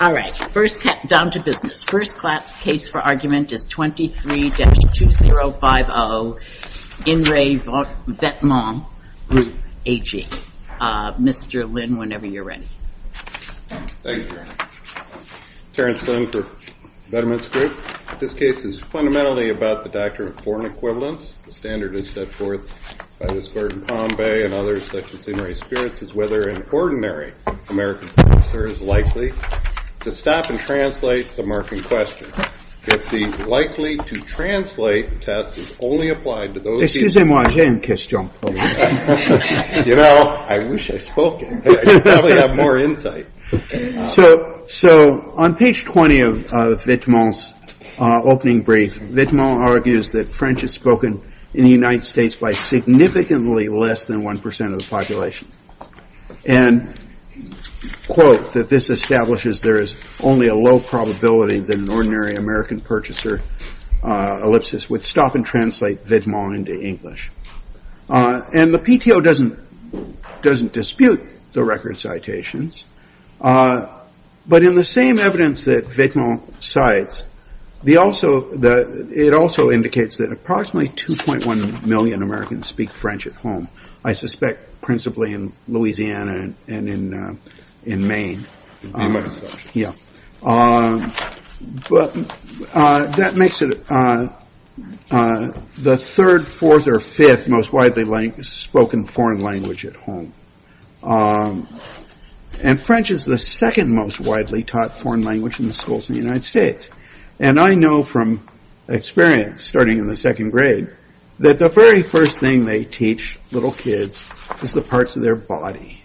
All right. First, down to business. First case for argument is 23-2050, In Re. Vetements Group AG. Mr. Lynn, whenever you're ready. Thank you, Karen. Terrence Lynn for Vetements Group. This case is fundamentally about the doctrine of foreign equivalence. The standard is set forth by this bird in Palm Bay and others such as In Re. Spirits is whether an ordinary American officer is likely to stop and translate the mark in question. If the likely to translate test is only applied to those... Excusez-moi, j'ai une question. You know, I wish I'd spoken. I'd probably have more insight. So, on page 20 of Vetements' opening brief, Vetements argues that French is spoken in the United States by significantly less than 1% of the population. And, quote, that this establishes there is only a low probability than an ordinary American purchaser, ellipsis, would stop and translate Vetements into English. And the PTO doesn't dispute the record citations. But in the same evidence that Vetements cites, it also indicates that approximately 2.1 million Americans speak French at home. I suspect principally in Louisiana and in Maine. Yeah, but that makes it the third, fourth, or fifth most widely spoken foreign language at home. And French is the second most widely taught foreign language in the schools in the United States. And I know from experience, starting in the second grade, that the very first thing they teach little kids is the parts of their body.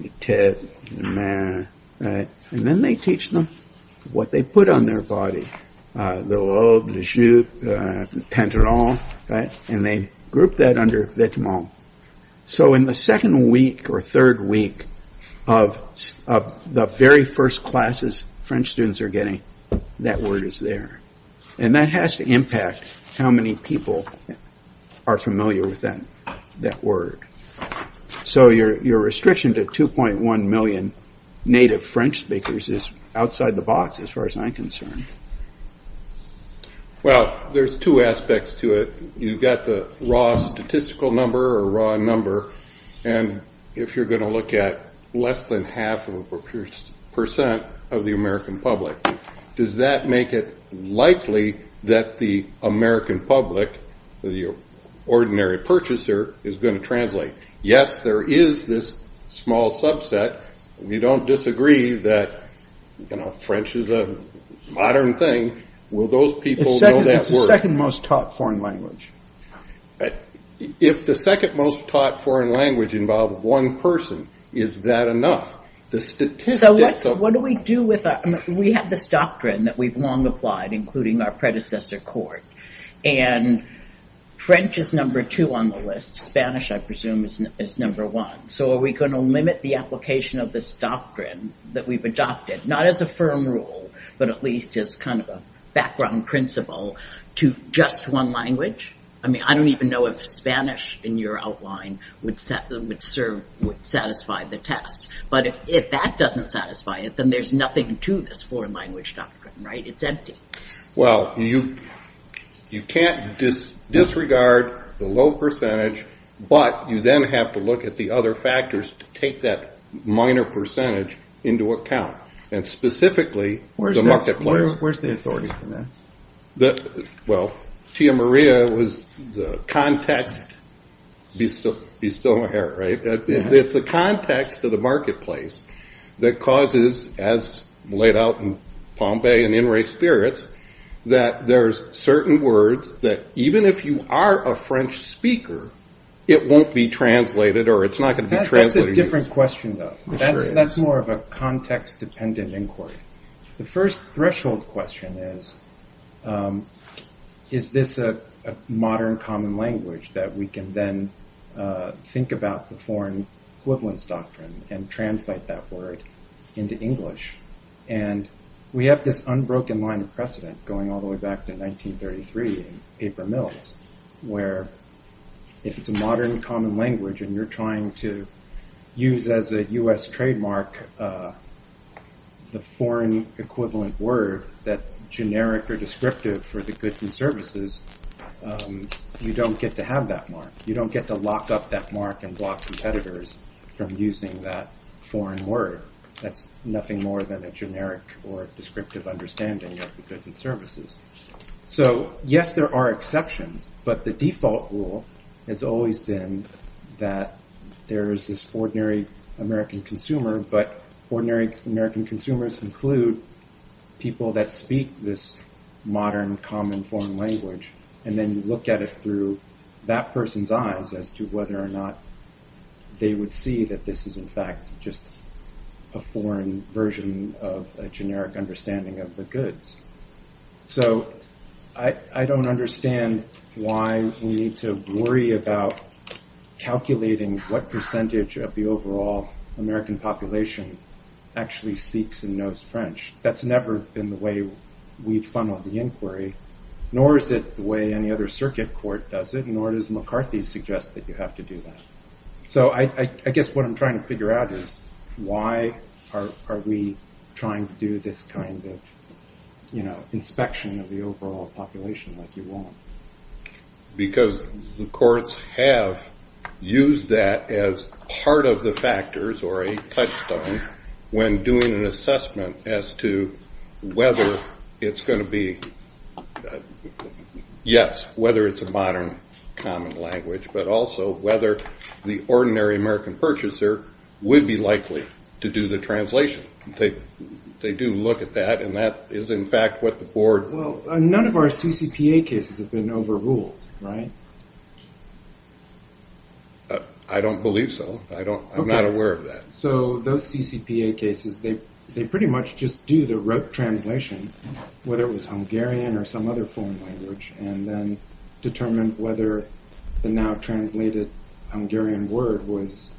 And then they teach them what they put on their body. The lobe, the jupe, the penteron, right? And they group that under Vetements. So, in the second week or third week of the very first classes French students are getting, that word is there. And that has to impact how many people are familiar with that word. So, your restriction to 2.1 million native French speakers is outside the box as far as I'm concerned. Well, there's two aspects to it. You've got the raw statistical number or raw number. And if you're going to look at less than half of a percent of the American public, does that make it likely that the American public, the ordinary purchaser, is going to translate? Yes, there is this small subset. We don't disagree that, you know, French is a modern thing. Will those people know that word? It's the second most taught foreign language. If the second most taught foreign language involved one person, is that enough? So, what do we do with that? We have this doctrine that we've long applied, including our predecessor court. And French is number two on the list. Spanish, I presume, is number one. So, are we going to limit the application of this doctrine that we've adopted, not as a firm rule, but at least as kind of a background principle to just one language? I mean, I don't even know if Spanish in your outline would satisfy the test. But if that doesn't satisfy it, then there's nothing to this foreign language doctrine, right? It's empty. Well, you can't disregard the low percentage, but you then have to look at the other factors to take that minor percentage into account. And specifically, the market players. Where's the authority for that? Well, Tia Maria was the context. Bistow-Herr, right? It's the context of the marketplace that causes, as laid out in Pompeii and In Re Spirits, that there's certain words that, even if you are a French speaker, it won't be translated, or it's not going to be translated. That's a different question, though. That's more of a context-dependent inquiry. The first threshold question is, is this a modern common language that we can then think about the foreign equivalence doctrine and translate that word into English? And we have this unbroken line of precedent going all the way back to 1933 in paper mills, where if it's a modern common language and you're trying to use as a U.S. trademark the foreign equivalent word that's generic or descriptive for the goods and services, you don't get to have that mark. You don't get to lock up that mark and block competitors from using that foreign word. That's nothing more than a generic or descriptive understanding of the goods and services. So, yes, there are exceptions, but the default rule has always been that there's this ordinary American consumer, but ordinary American consumers include people that speak this modern common foreign language, and then you look at it through that person's eyes as to whether or not they would see that this is, in fact, just a foreign version of a generic understanding of the goods. So I don't understand why we need to worry about calculating what percentage of the overall American population actually speaks and knows French. That's never been the way we've funneled the inquiry, nor is it the way any other circuit court does it, nor does McCarthy suggest that you have to do that. So I guess what I'm trying to figure out is why are we trying to do this kind of, you know, inspection of the overall population like you want? Because the courts have used that as part of the factors or a touchstone when doing an assessment as to whether it's gonna be, yes, whether it's a modern common language, but also whether the ordinary American purchaser would be likely to do the translation. They do look at that, and that is, in fact, what the board... None of our CCPA cases have been overruled, right? I don't believe so. I'm not aware of that. So those CCPA cases, they pretty much just do the translation, whether it was Hungarian or some other foreign language, and then determine whether the now-translated Hungarian word was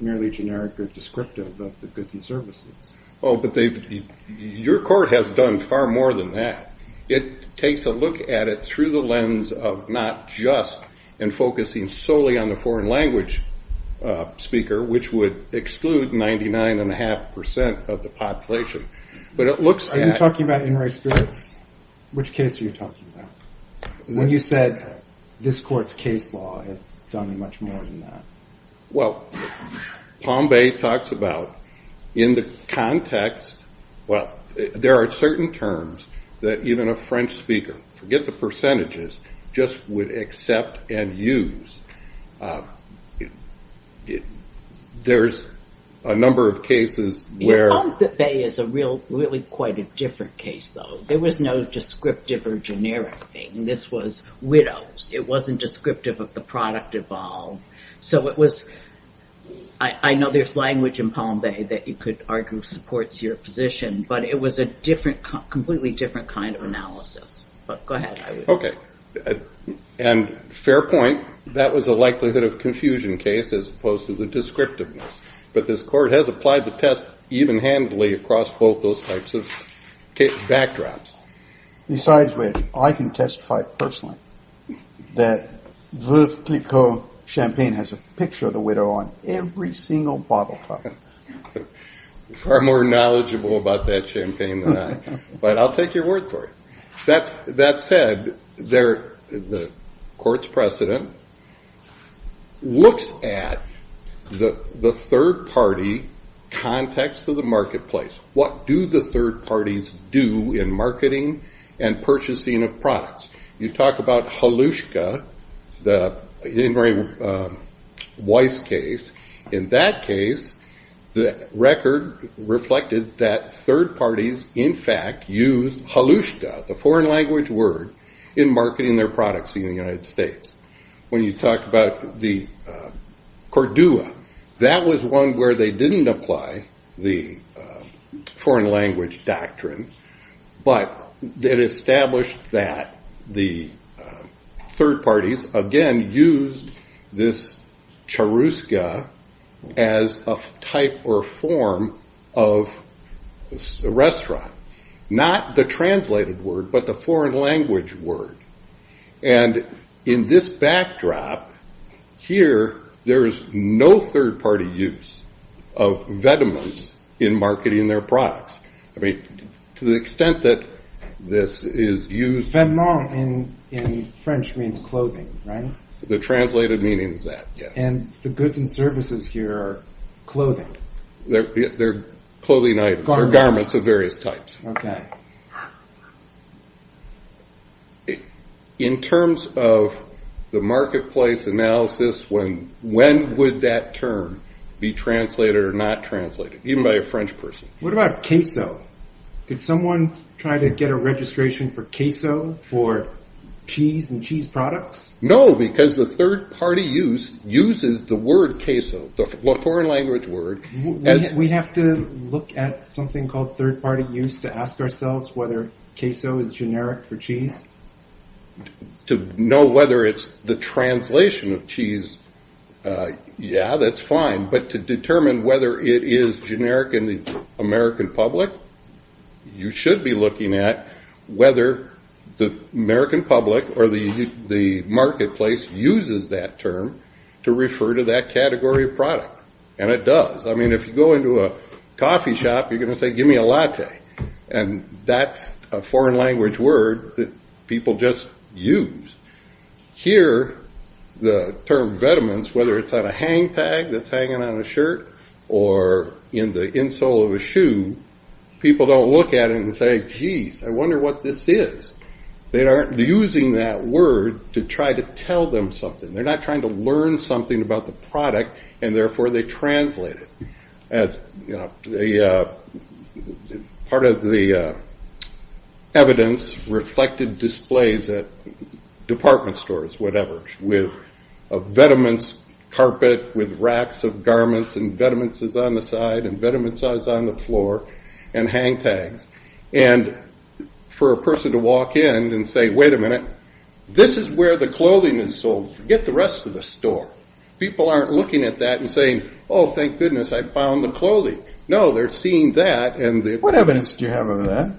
merely generic or descriptive of the goods and services. Oh, but your court has done far more than that. It takes a look at it through the lens of not just in focusing solely on the foreign language speaker, which would exclude 99.5% of the population. But it looks at... Are you talking about in race spirits? Which case are you talking about? When you said this court's case law has done much more than that. Well, Palm Bay talks about, in the context... Well, there are certain terms that even a French speaker, forget the percentages, just would accept and use. There's a number of cases where... Palm Bay is really quite a different case, though. There was no descriptive or generic thing. This was widows. It wasn't descriptive of the product involved. So it was... I know there's language in Palm Bay that you could argue supports your position, but it was a completely different kind of analysis. But go ahead. Okay. And fair point. That was a likelihood of confusion case as opposed to the descriptiveness. But this court has applied the test even-handedly across both those types of backdrops. Besides, I can testify personally that Veuve Clicquot Champagne has a picture of the widow on every single bottle top. Far more knowledgeable about that champagne than I. But I'll take your word for it. That said, the court's precedent looks at the third-party context of the marketplace. What do the third parties do in marketing and purchasing of products? You talk about Holushka, the Henry Weiss case. In that case, the record reflected that third parties in fact used Holushka, the foreign language word, in marketing their products in the United States. When you talk about the Cordua, that was one where they didn't apply the foreign language doctrine, but it established that the third parties, again, used this Choruska as a type or form of restaurant. Not the translated word, but the foreign language word. And in this backdrop, here, there is no third-party use of Vedemans in marketing their products. I mean, to the extent that this is used. Vedemans in French means clothing, right? The translated meaning is that, yes. And the goods and services here are clothing. They're clothing items or garments of various types. In terms of the marketplace analysis, when would that term be translated or not translated? Even by a French person. What about queso? Could someone try to get a registration for queso for cheese and cheese products? No, because the third-party use uses the word queso, the foreign language word. We have to look at something called third-party use to ask ourselves whether queso is generic for cheese? To know whether it's the translation of cheese, yeah, that's fine. But to determine whether it is generic in the American public, you should be looking at whether the American public or the marketplace uses that term to refer to that category of product. And it does. I mean, if you go into a coffee shop, you're gonna say, give me a latte. And that's a foreign language word that people just use. Here, the term Vedemans, whether it's on a hang tag that's hanging on a shirt or in the insole of a shoe, people don't look at it and say, geez, I wonder what this is. They aren't using that word to try to tell them something. They're not trying to learn something about the product and therefore they translate it. Part of the evidence reflected displays at department stores, whatever, with a Vedemans carpet with racks of garments and Vedemans is on the side and Vedemans is on the floor and hang tags. And for a person to walk in and say, wait a minute, this is where the clothing is sold. Forget the rest of the store. People aren't looking at that and saying, oh, thank goodness, I found the clothing. No, they're seeing that and the- What evidence do you have of that?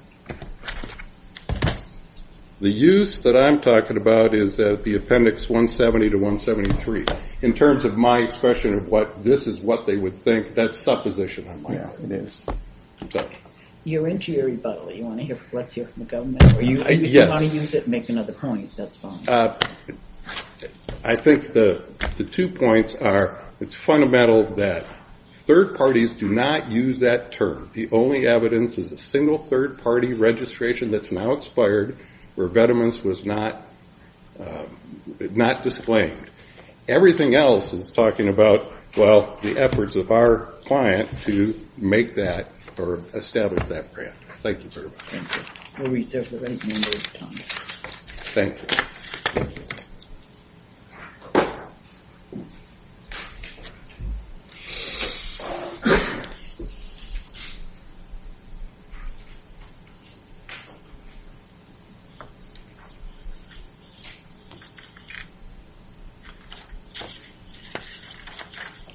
The use that I'm talking about is that the appendix 170 to 173. In terms of my expression of what, this is what they would think, that's supposition on my part. Yeah, it is. You're into your rebuttal. You want to hear from, let's hear from the government. Or you want to use it and make another point, that's fine. I think the two points are, it's fundamental that third parties do not use that term. The only evidence is a single third party registration that's now expired where Vedemans was not displayed. Everything else is talking about, well, the efforts of our client to make that or establish that brand. Thank you very much. Thank you. We'll be separate members of Congress. Thank you.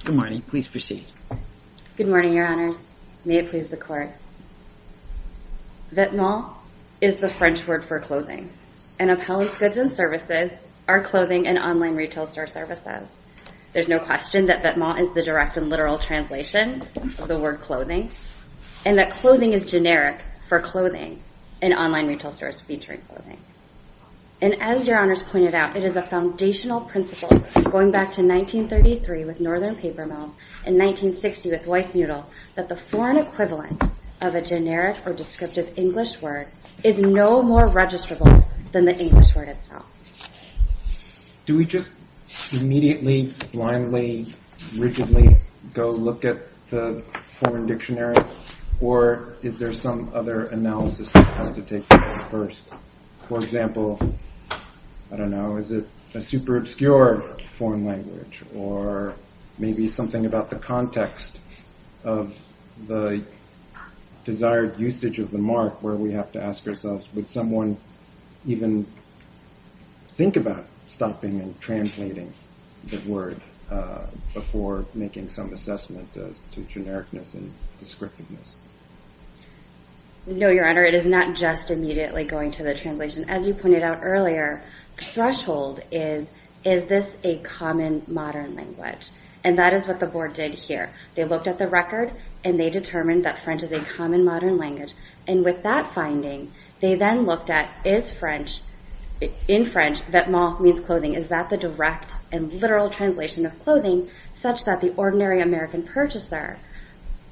Good morning, please proceed. Good morning, your honors. May it please the court. Vedemans is the French word for clothing and appellants goods and services are clothing and online retail store services. There's no question that Vedemans is the direct and literal translation of the word clothing and that clothing is generic for clothing and online retail stores featuring clothing. And as your honors pointed out, it is a foundational principle going back to 1933 with Northern Paper Mill and 1960 with Weissnudel that the foreign equivalent of a generic or descriptive English word is no more registrable than the English word itself. Do we just immediately, blindly, rigidly go look at the foreign dictionary or is there some other analysis that has to take place first? For example, I don't know, is it a super obscure foreign language or maybe something about the context of the desired usage of the mark where we have to ask ourselves, would someone even think about stopping and translating the word before making some assessment to genericness and descriptiveness? No, your honor, it is not just immediately going to the translation. As you pointed out earlier, threshold is, is this a common modern language? And that is what the board did here. They looked at the record and they determined that French is a common modern language and with that finding, they then looked at, is French, in French, vetements means clothing, is that the direct and literal translation of clothing such that the ordinary American purchaser,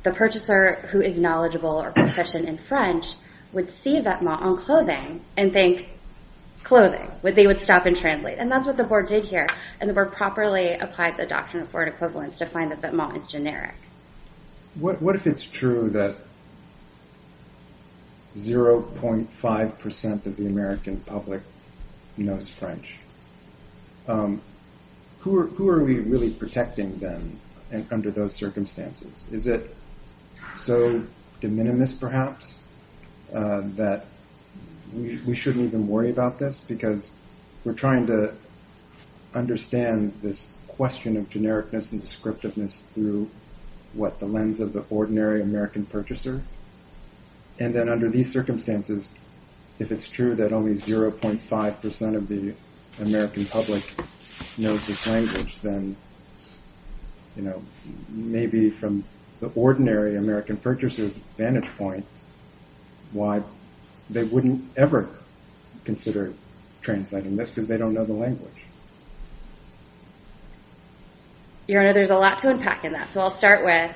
the purchaser who is knowledgeable or proficient in French would see vetements on clothing and think clothing, they would stop and translate. And that's what the board did here. And the board properly applied the doctrine of word equivalence to find that vetements is generic. What if it's true that 0.5% of the American public knows French? Who are we really protecting then under those circumstances? Is it so de minimis perhaps that we shouldn't even worry about this because we're trying to understand this question of genericness and descriptiveness through what the lens of the ordinary American purchaser. And then under these circumstances, if it's true that only 0.5% of the American public knows this language, then, you know, maybe from the ordinary American purchaser's vantage point, why they wouldn't ever consider translating this because they don't know the language. Your Honor, there's a lot to unpack in that. So I'll start with,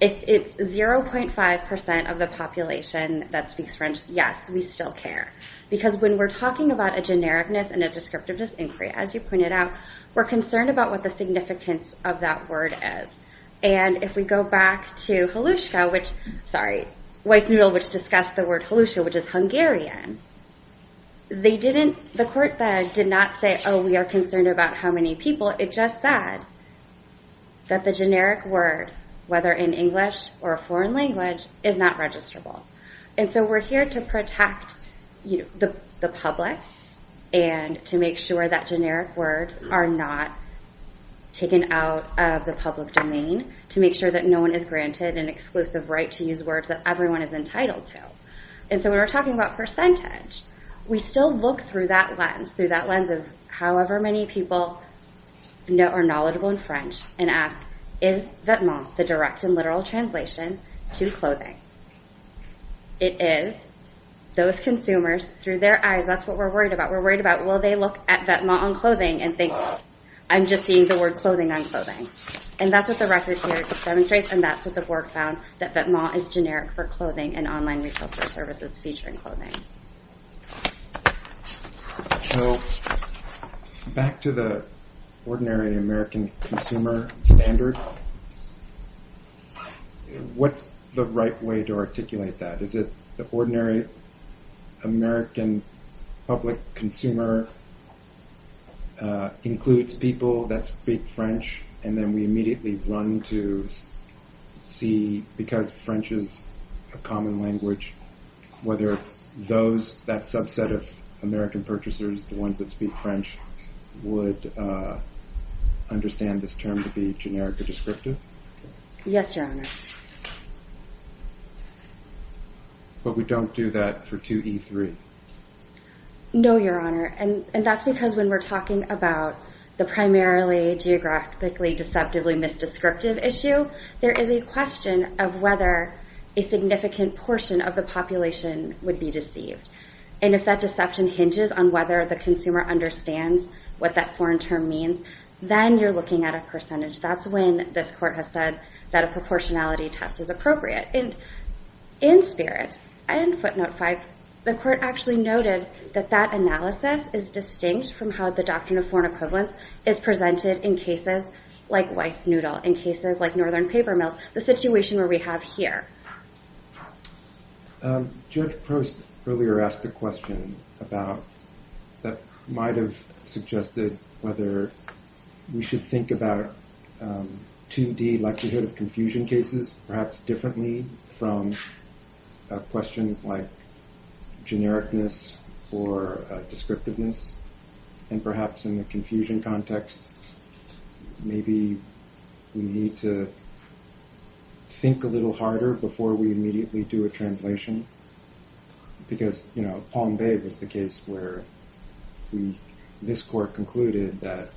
if it's 0.5% of the population that speaks French, yes, we still care. Because when we're talking about a genericness and a descriptiveness inquiry, as you pointed out, we're concerned about what the significance of that word is. And if we go back to Holushka, which, sorry, Weissnudel, which discussed the word Holushka, which is Hungarian, they didn't, the court that did not say, oh, we are concerned about how many people, it just said that the generic word, whether in English or a foreign language, is not registrable. And so we're here to protect the public and to make sure that generic words are not taken out of the public domain, to make sure that no one is granted an exclusive right to use words that everyone is entitled to. And so when we're talking about percentage, we still look through that lens, through that lens of however many people are knowledgeable in French and ask, is Vetements, the direct and literal translation, to clothing? It is. Those consumers, through their eyes, that's what we're worried about. We're worried about, will they look at Vetements on clothing and think, I'm just seeing the word clothing on clothing. And that's what the record here demonstrates, and that's what the board found, that Vetements is generic for clothing and online retail store services featuring clothing. So back to the ordinary American consumer standard, what's the right way to articulate that? Is it the ordinary American public consumer includes people that speak French, and then we immediately run to see, because French is a common language, whether those, that subset of American purchasers, the ones that speak French, would understand this term to be generic or descriptive? Yes, Your Honor. But we don't do that for 2E3. No, Your Honor, and that's because when we're talking about the primarily geographically deceptively misdescriptive issue, there is a question of whether a significant portion of the population would be deceived. And if that deception hinges on whether the consumer understands what that foreign term means, then you're looking at a percentage. That's when this court has said that a proportionality test is appropriate. And in spirit, and footnote five, the court actually noted that that analysis is distinct from how the doctrine of foreign equivalence is presented in cases like Weissnudel, in cases like Northern Paper Mills, the situation where we have here. Judge Post earlier asked a question about, that might have suggested whether we should think about 2D likelihood of confusion cases, perhaps differently from questions like genericness or descriptiveness. And perhaps in the confusion context, maybe we need to think a little harder before we immediately do a translation. Because Palm Bay was the case where we, this court concluded that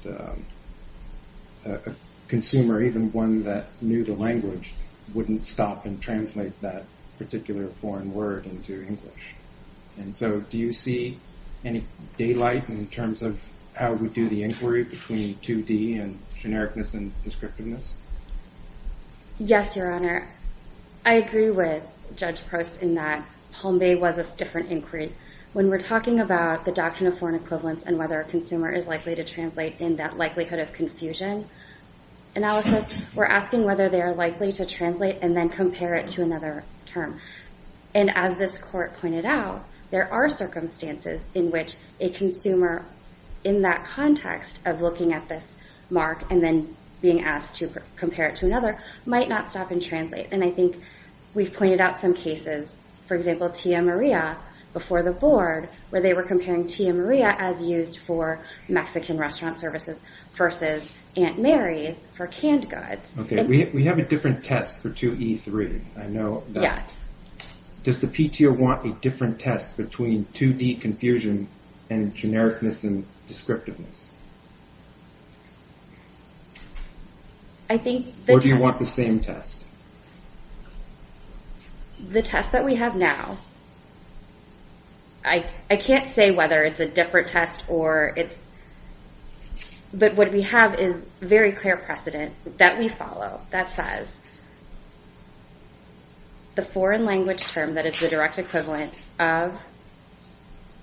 a consumer, even one that knew the language, wouldn't stop and translate that particular foreign word into English. And so do you see any daylight in terms of how we do the inquiry between 2D and genericness and descriptiveness? Yes, Your Honor. I agree with Judge Post in that Palm Bay was a different inquiry. When we're talking about the doctrine of foreign equivalence and whether a consumer is likely to translate in that likelihood of confusion analysis, we're asking whether they are likely to translate and then compare it to another term. And as this court pointed out, there are circumstances in which a consumer, in that context of looking at this mark and then being asked to compare it to another, might not stop and translate. And I think we've pointed out some cases, for example, Tia Maria before the board, where they were comparing Tia Maria as used for Mexican restaurant services versus Aunt Mary's for canned goods. Okay, we have a different test for 2E3. I know that. Does the PTR want a different test between 2D confusion and genericness and descriptiveness? I think that- Or do you want the same test? The test that we have now. Well, I can't say whether it's a different test or it's... But what we have is very clear precedent that we follow that says the foreign language term that is the direct equivalent of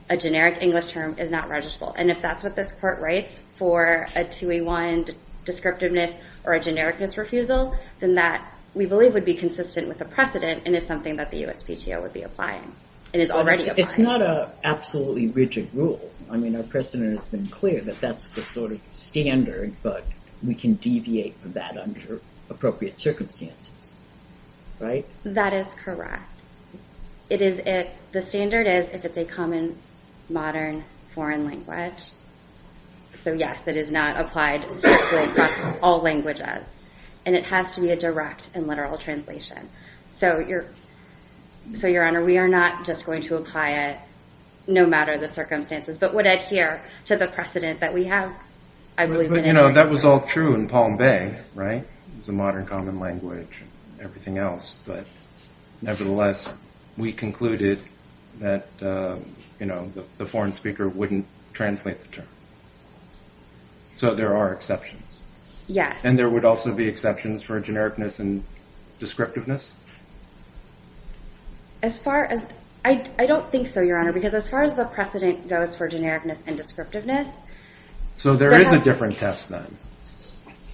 a generic English term is not registrable. And if that's what this court writes for a 2E1 descriptiveness or a genericness refusal, then that we believe would be consistent with the precedent and is something that the USPTO would be applying and is already applying. It's not a absolutely rigid rule. I mean, our precedent has been clear that that's the sort of standard, but we can deviate from that under appropriate circumstances, right? That is correct. The standard is if it's a common modern foreign language. So yes, it is not applied strictly across all languages. And it has to be a direct and literal translation. So Your Honor, we are not just going to apply it no matter the circumstances, but would adhere to the precedent that we have, I believe in any way. But you know, that was all true in Palm Bay, right? It's a modern common language and everything else, but nevertheless, we concluded that, you know, the foreign speaker wouldn't translate the term. So there are exceptions. Yes. And there would also be exceptions for genericness and descriptiveness? As far as, I don't think so, Your Honor, because as far as the precedent goes for genericness and descriptiveness. So there is a different test then.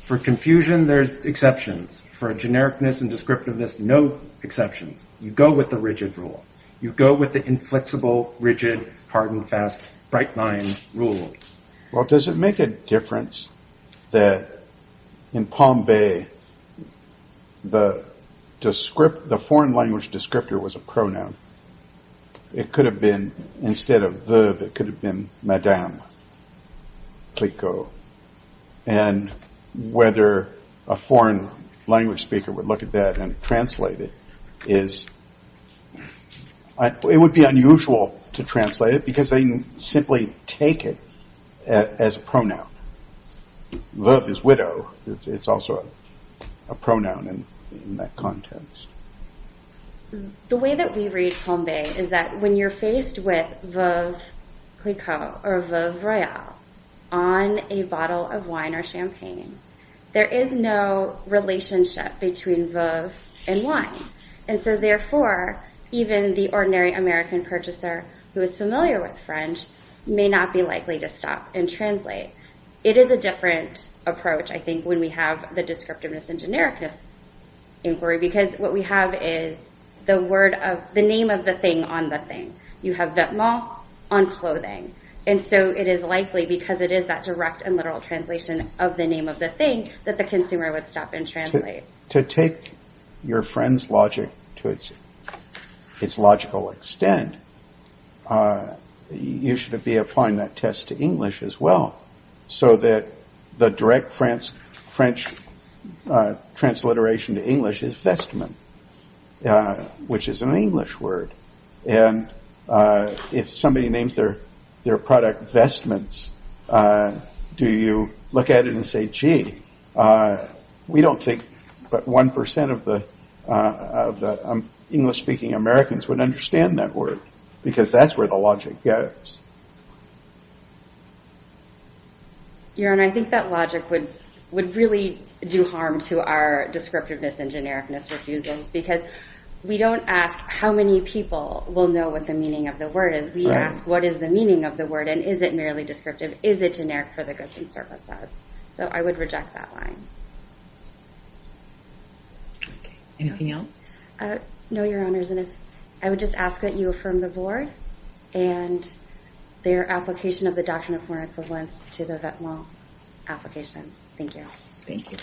For confusion, there's exceptions. For genericness and descriptiveness, no exceptions. You go with the rigid rule. You go with the inflexible, rigid, hard and fast bright line rule. Well, does it make a difference that in Palm Bay, the foreign language descriptor was a pronoun? It could have been, instead of the, it could have been madame, please go. And whether a foreign language speaker would look at that and translate it is, it would be unusual to translate it because they simply take it as a pronoun. Love is widow. It's also a pronoun in that context. The way that we read Palm Bay is that when you're faced with Veuve Clicquot or Veuve Royale on a bottle of wine or champagne, there is no relationship between Veuve and wine. And so therefore, even the ordinary American purchaser who is familiar with French may not be likely to stop and translate. It is a different approach, I think, when we have the descriptiveness and genericness inquiry, because what we have is the word of, the name of the thing on the thing. You have Vetements on clothing. And so it is likely because it is that direct and literal translation of the name of the thing that the consumer would stop and translate. To take your friend's logic to its logical extent, you should be applying that test to English as well so that the direct French transliteration to English is vestment, which is an English word. And if somebody names their product vestments, do you look at it and say, gee, we don't think but 1% of the English-speaking Americans would understand that word, because that's where the logic goes. Your Honor, I think that logic would really do harm to our descriptiveness and genericness refusals, because we don't ask how many people will know what the meaning of the word is. We ask what is the meaning of the word and is it merely descriptive? Is it generic for the goods and services? So I would reject that line. Anything else? No, Your Honors, and I would just ask that you affirm the Board and their application of the Doctrine of Foreign Equivalence to the Vetements applications. Thank you. Thank you.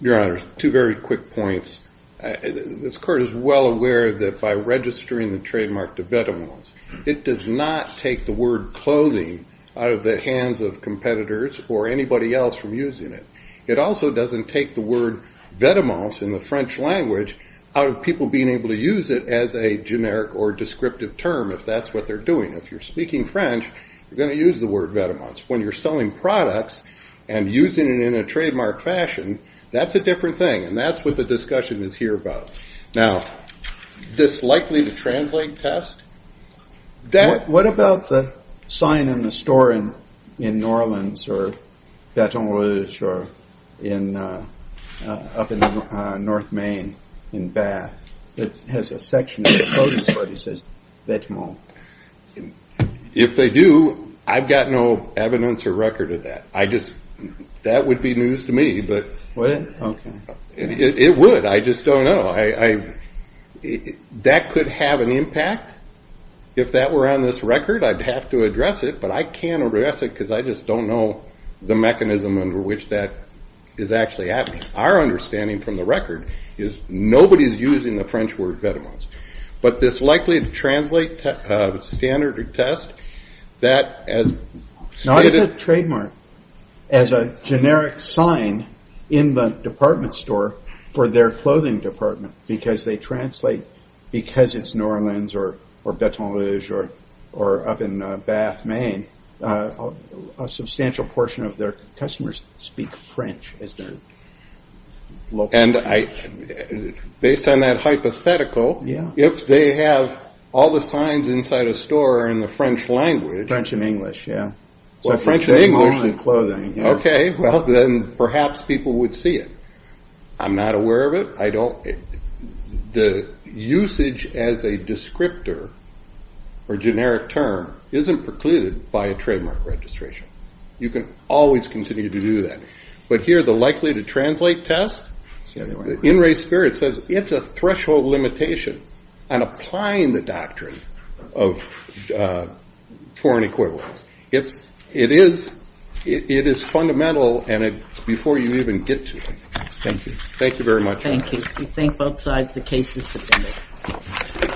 Your Honors, two very quick points. This Court is well aware that by registering the trademark to Vetements, it does not take the word clothing out of the hands of competitors or anybody else from using it. It also doesn't take the word Vetements in the French language out of people being able to use it as a generic or descriptive term, if that's what they're doing. If you're speaking French, you're gonna use the word Vetements. When you're selling products and using it in a trademark fashion, that's a different thing, and that's what the discussion is here about. Now, this likely to translate test? What about the sign in the store in New Orleans or Baton Rouge or up in North Maine in Bath that has a section where it says Vetements? If they do, I've got no evidence or record of that. That would be news to me, but it would. I just don't know. I, that could have an impact. If that were on this record, I'd have to address it, but I can't address it because I just don't know the mechanism under which that is actually happening. Our understanding from the record is nobody's using the French word Vetements, but this likely to translate standard or test, that as stated- Not as a trademark, as a generic sign in the department store for their clothing department, because they translate, because it's New Orleans or Baton Rouge or up in Bath, Maine, a substantial portion of their customers speak French as their local language. Based on that hypothetical, if they have all the signs inside a store in the French language- French and English, yeah. So French and English- They want clothing, yeah. Okay, well, then perhaps people would see it. I'm not aware of it. I don't, the usage as a descriptor or generic term isn't precluded by a trademark registration. You can always continue to do that. But here, the likely to translate test, in race spirit says it's a threshold limitation on applying the doctrine of foreign equivalence. It's, it is, it is fundamental and it's before you even get to it. Thank you. Thank you very much. Thank you. We thank both sides for the cases submitted.